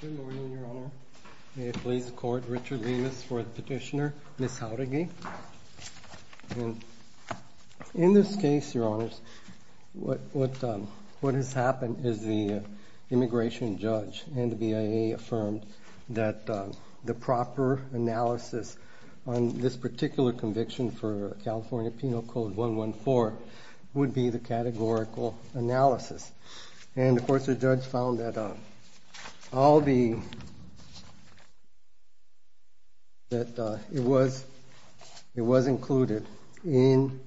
Good morning, Your Honor. May it please the Court, Richard Lemus for the petitioner, Ms. Jauregui. In this case, Your Honors, what has happened is the immigration judge and the BIA affirmed that the proper analysis on this particular conviction for California Penal Code 114 would be the categorical analysis. And, of course, the judge found that it was included in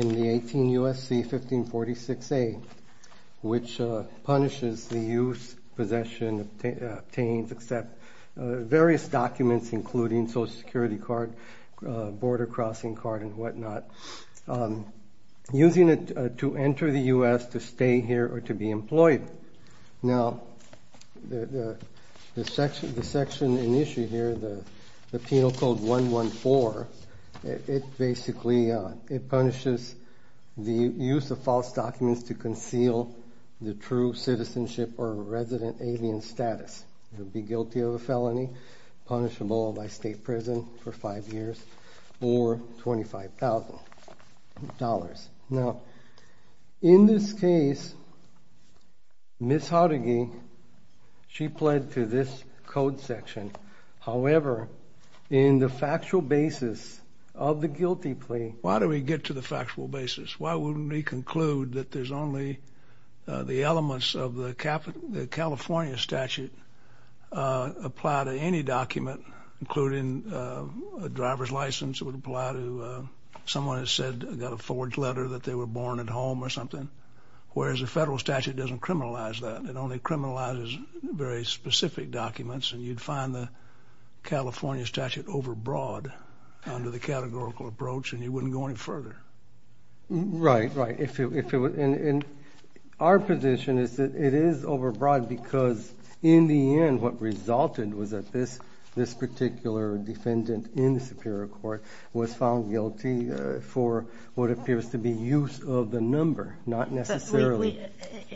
the 18 U.S.C. 1546A, which punishes the use, possession, obtains, accepts various documents including Social Security card, border crossing card, and what not. Using it to enter the U.S., to stay here, or to be employed. Now, the section in issue here, the Penal Code 114, it basically punishes the use of false documents to conceal the true citizenship or resident alien status. You'll be guilty of a felony, punishable by state prison for five years, or $25,000. Now, in this case, Ms. Jauregui, she pled to this code section. However, in the factual basis of the guilty plea... ...that they were born at home or something, whereas the federal statute doesn't criminalize that. It only criminalizes very specific documents, and you'd find the California statute overbroad under the categorical approach, and you wouldn't go any further. Right, right. Our position is that it is overbroad because, in the end, what resulted was that this particular defendant in the superior court was found guilty for what appears to be use of the number, not necessarily...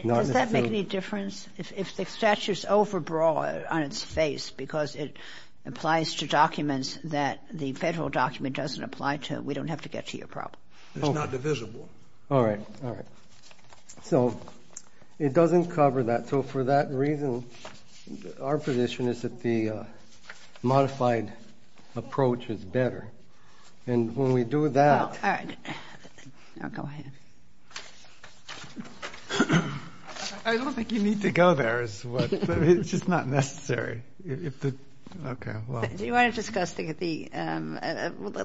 Does that make any difference? If the statute's overbroad on its face because it applies to documents that the federal document doesn't apply to, we don't have to get to your problem. It's not divisible. All right, all right. So it doesn't cover that. So for that reason, our position is that the modified approach is better. And when we do that... All right. Now go ahead. I don't think you need to go there is what... It's just not necessary. Okay, well... Do you want to discuss the...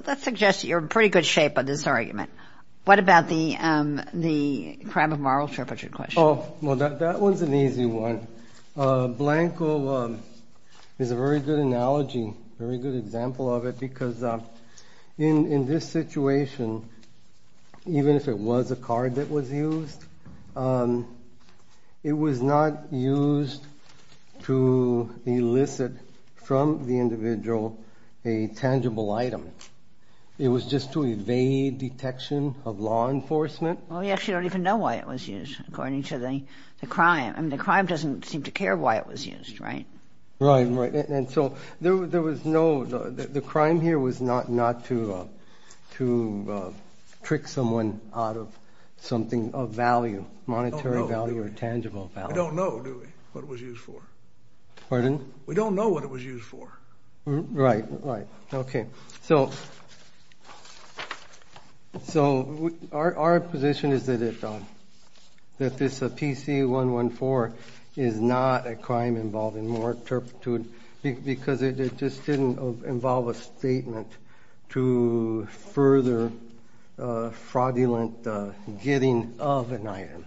Let's suggest that you're in pretty good shape on this argument. What about the crime of moral trepidation question? Oh, well, that one's an easy one. Blanco is a very good analogy, very good example of it, because in this situation, even if it was a card that was used, it was not used to elicit from the individual a tangible item. It was just to evade detection of law enforcement. Well, we actually don't even know why it was used, according to the crime. I mean, the crime doesn't seem to care why it was used, right? Right, right. And so there was no... The crime here was not to trick someone out of something of value, monetary value or tangible value. We don't know, do we, what it was used for? Pardon? We don't know what it was used for. Right, right. Okay. So our position is that this PC114 is not a crime involving moral turpitude because it just didn't involve a statement to further fraudulent getting of an item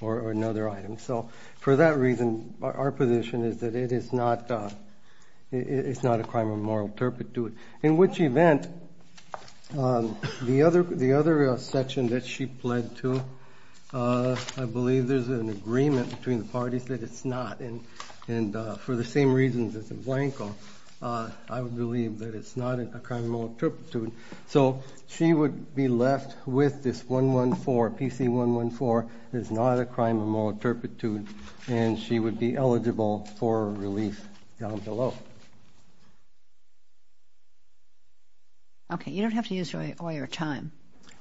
or another item. So for that reason, our position is that it is not a crime of moral turpitude. In which event, the other section that she pled to, I believe there's an agreement between the parties that it's not. And for the same reasons as in Blanco, I would believe that it's not a crime of moral turpitude. Okay. You don't have to use all your time.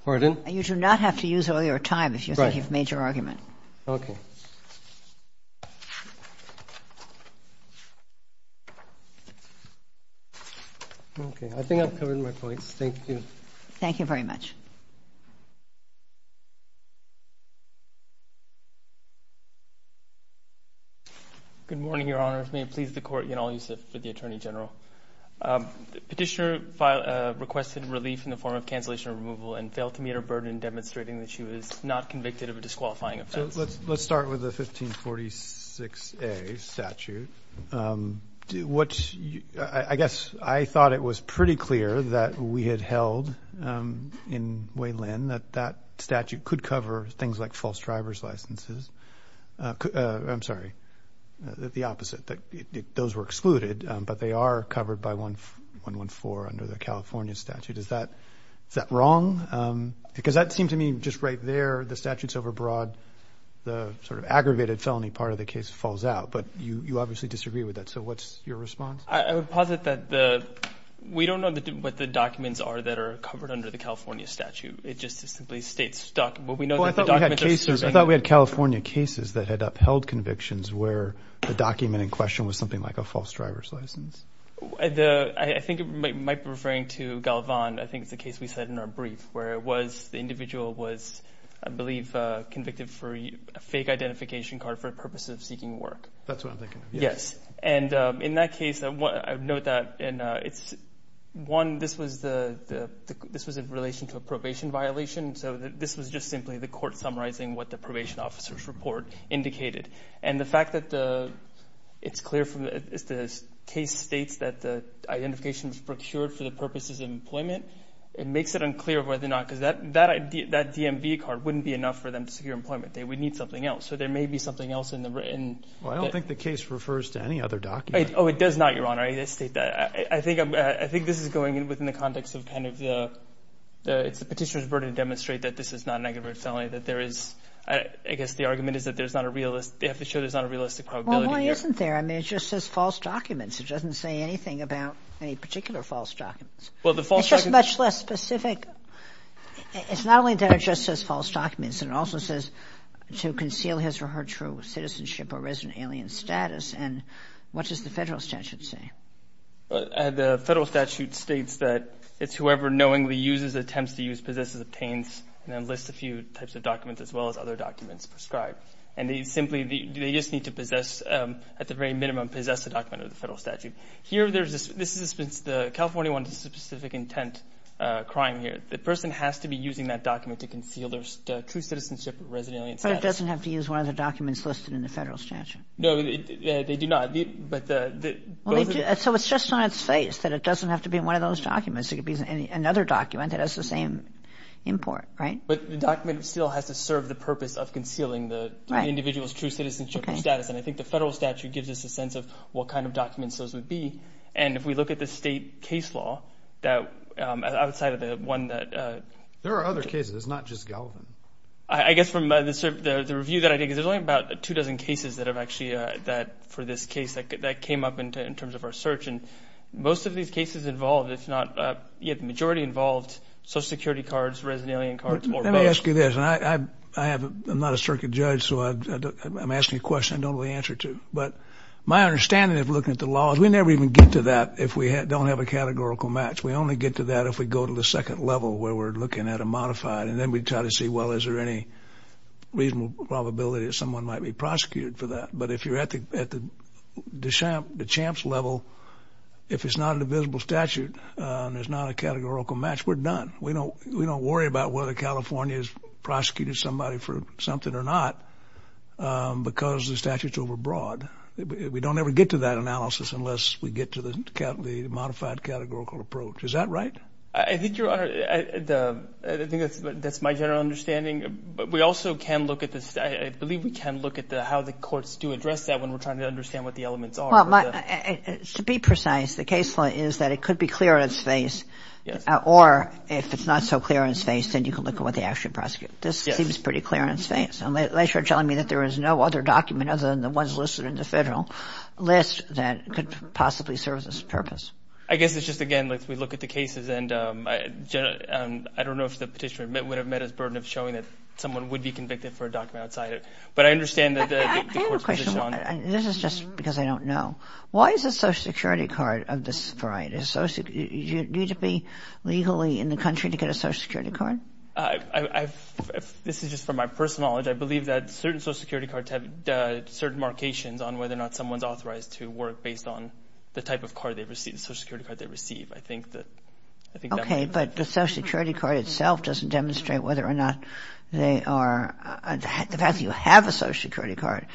Pardon? You do not have to use all your time if you think you've made your argument. Right. Okay. Okay. I think I've covered my points. Thank you. Thank you very much. Good morning, Your Honor. May it please the Court, Yanal Yusuf for the Attorney General. Petitioner requested relief in the form of cancellation or removal and failed to meet her burden demonstrating that she was not convicted of a disqualifying offense. So let's start with the 1546A statute. I guess I thought it was pretty clear that we had held in Wayland that that statute could cover things like false driver's licenses. I'm sorry, the opposite. Those were excluded, but they are covered by 114 under the California statute. Is that wrong? Because that seemed to me just right there, the statute's overbroad. The sort of aggravated felony part of the case falls out. But you obviously disagree with that. So what's your response? I would posit that we don't know what the documents are that are covered under the California statute. It just is simply states. Well, I thought we had California cases that had upheld convictions where the document in question was something like a false driver's license. I think it might be referring to Galvan. I think it's the case we said in our brief where it was the individual was, I believe, convicted for a fake identification card for the purpose of seeking work. That's what I'm thinking. Yes. And in that case, I note that it's one, this was in relation to a probation violation. So this was just simply the court summarizing what the probation officer's report indicated. And the fact that it's clear from the case states that the identification was procured for the purposes of employment, it makes it unclear whether or not because that DMV card wouldn't be enough for them to secure employment. They would need something else. So there may be something else in the written. Well, I don't think the case refers to any other document. Oh, it does not, Your Honor. I state that. I think this is going within the context of kind of the petitioner's burden to demonstrate that this is not an aggravated felony, that there is, I guess the argument is that there's not a realistic, they have to show there's not a realistic probability here. Well, why isn't there? I mean, it just says false documents. It doesn't say anything about any particular false documents. It's just much less specific. It's not only that it just says false documents. It also says to conceal his or her true citizenship or resident alien status. And what does the federal statute say? The federal statute states that it's whoever knowingly uses, attempts to use, possesses, obtains, and then lists a few types of documents as well as other documents prescribed. And they simply, they just need to possess, at the very minimum, possess the document of the federal statute. Here there's, this is the California 1 specific intent crime here. The person has to be using that document to conceal their true citizenship or resident alien status. But it doesn't have to use one of the documents listed in the federal statute. No, they do not. So it's just on its face that it doesn't have to be one of those documents. It could be another document that has the same import, right? But the document still has to serve the purpose of concealing the individual's true citizenship or status. And I think the federal statute gives us a sense of what kind of documents those would be. And if we look at the state case law, outside of the one that... There are other cases. It's not just Gallivan. I guess from the review that I did, because there's only about two dozen cases that have actually, that for this case that came up in terms of our search. And most of these cases involved, if not, yeah, the majority involved Social Security cards, resident alien cards. Let me ask you this. And I have, I'm not a circuit judge, so I'm asking a question I don't know the answer to. But my understanding of looking at the law is we never even get to that if we don't have a categorical match. We only get to that if we go to the second level where we're looking at a modified. And then we try to see, well, is there any reasonable probability that someone might be prosecuted for that? But if you're at the champs level, if it's not a divisible statute and there's not a categorical match, we're done. We don't worry about whether California has prosecuted somebody for something or not because the statute's overbroad. We don't ever get to that analysis unless we get to the modified categorical approach. Is that right? I think, Your Honor, I think that's my general understanding. But we also can look at this. I believe we can look at how the courts do address that when we're trying to understand what the elements are. Well, to be precise, the case law is that it could be clearance-based. Or if it's not so clearance-based, then you can look at what they actually prosecute. This seems pretty clearance-based. Unless you're telling me that there is no other document other than the ones listed in the federal list that could possibly serve this purpose. I guess it's just, again, we look at the cases. And I don't know if the petitioner would have met his burden of showing that someone would be convicted for a document outside it. But I understand that the court's position on it. I have a question. This is just because I don't know. Why is a Social Security card of this variety? Do you need to be legally in the country to get a Social Security card? This is just from my personal knowledge. I believe that certain Social Security cards have certain markations on whether or not someone's authorized to work based on the type of card they receive, the Social Security card they receive. I think that that's why. Okay, but the Social Security card itself doesn't demonstrate whether or not they are – the fact that you have a Social Security card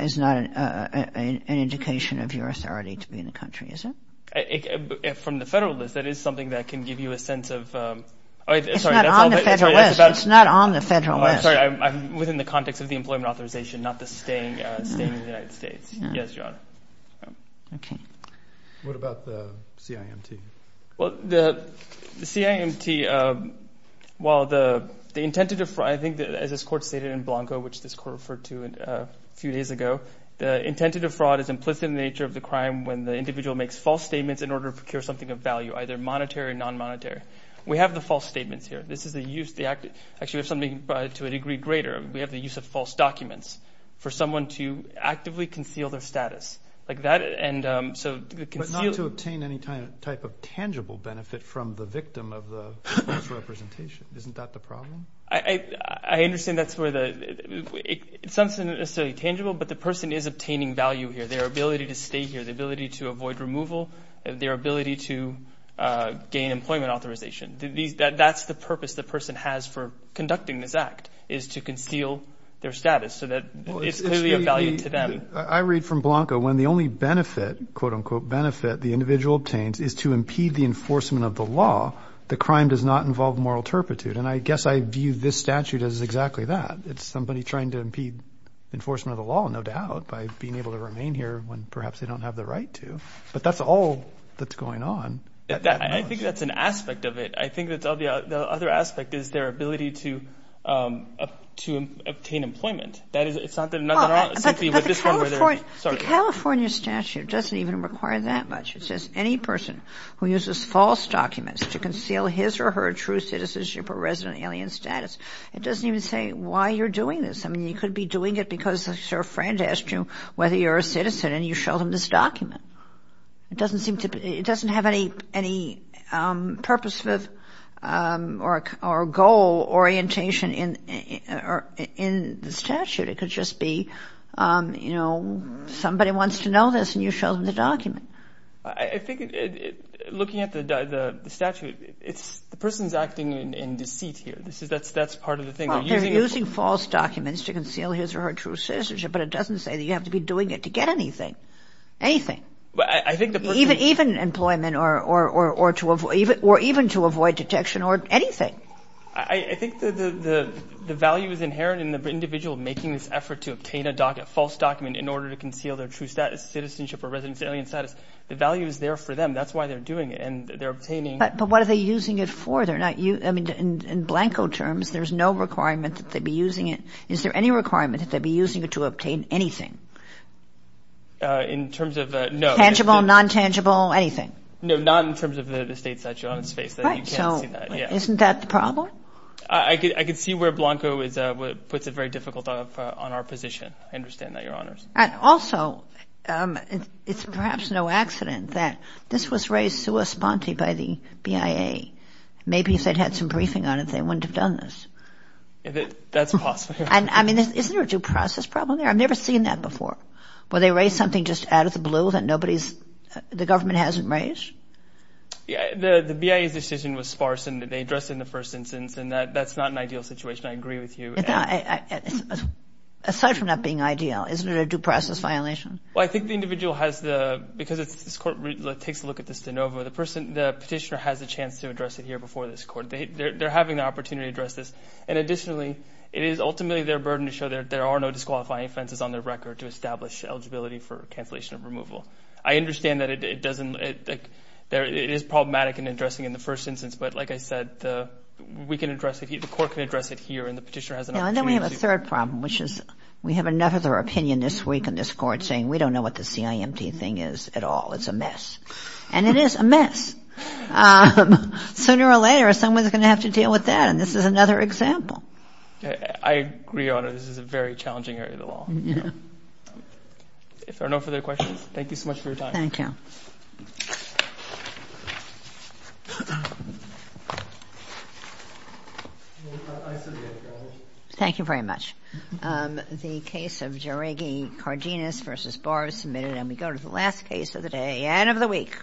is not an indication of your authority to be in the country, is it? From the federal list, that is something that can give you a sense of – It's not on the federal list. It's not on the federal list. I'm sorry. I'm within the context of the employment authorization, not the staying in the United States. Yes, Your Honor. Okay. What about the CIMT? Well, the CIMT, while the intent to defraud – I think as this court stated in Blanco, which this court referred to a few days ago, the intent to defraud is implicit in the nature of the crime when the individual makes false statements in order to procure something of value, either monetary or non-monetary. We have the false statements here. This is the use – actually, we have something to a degree greater. We have the use of false documents for someone to actively conceal their status. Like that, and so to conceal – But not to obtain any type of tangible benefit from the victim of the false representation. Isn't that the problem? I understand that's where the – it's not necessarily tangible, but the person is obtaining value here, their ability to stay here, their ability to avoid removal, their ability to gain employment authorization. That's the purpose the person has for conducting this act is to conceal their status so that it's clearly of value to them. I read from Blanco when the only benefit, quote, unquote, benefit, the individual obtains, is to impede the enforcement of the law, the crime does not involve moral turpitude. And I guess I view this statute as exactly that. It's somebody trying to impede enforcement of the law, no doubt, by being able to remain here when perhaps they don't have the right to. But that's all that's going on. I think that's an aspect of it. I think the other aspect is their ability to obtain employment. That is, it's not that – But the California statute doesn't even require that much. It says any person who uses false documents to conceal his or her true citizenship or resident alien status, it doesn't even say why you're doing this. I mean, you could be doing it because your friend asked you whether you're a citizen, and you showed him this document. It doesn't seem to – it doesn't have any purpose or goal orientation in the statute. It could just be, you know, somebody wants to know this, and you show them the document. I think looking at the statute, it's – the person's acting in deceit here. That's part of the thing. They're using false documents to conceal his or her true citizenship, but it doesn't say that you have to be doing it to get anything, anything. Even employment or to avoid – or even to avoid detection or anything. I think the value is inherent in the individual making this effort to obtain a false document in order to conceal their true status, citizenship or resident alien status. The value is there for them. That's why they're doing it, and they're obtaining – But what are they using it for? They're not – I mean, in Blanco terms, there's no requirement that they be using it. Is there any requirement that they be using it to obtain anything? In terms of – no. Tangible, non-tangible, anything? No, not in terms of the state statute on its face. Right. So isn't that the problem? I can see where Blanco is – puts it very difficult on our position. I understand that, Your Honors. And also, it's perhaps no accident that this was raised sua sponte by the BIA. Maybe if they'd had some briefing on it, they wouldn't have done this. That's possible. I mean, isn't there a due process problem there? I've never seen that before, where they raise something just out of the blue that nobody's – the government hasn't raised? Yeah, the BIA's decision was sparse, and they addressed it in the first instance, and that's not an ideal situation. I agree with you. Aside from not being ideal, isn't it a due process violation? Well, I think the individual has the – because this Court takes a look at this de novo, the petitioner has a chance to address it here before this Court. They're having the opportunity to address this. And additionally, it is ultimately their burden to show there are no disqualifying offenses on their record to establish eligibility for cancellation of removal. I understand that it doesn't – it is problematic in addressing it in the first instance, but like I said, we can address it – the Court can address it here, and the petitioner has an opportunity to do that. And then we have a third problem, which is we have another opinion this week in this Court saying, we don't know what the CIMT thing is at all. It's a mess. And it is a mess. Sooner or later, someone's going to have to deal with that, and this is another example. I agree on it. This is a very challenging area of the law. If there are no further questions, thank you so much for your time. Thank you. Thank you very much. The case of Jaregi Cardenas v. Barr is submitted, and we go to the last case of the day and of the week.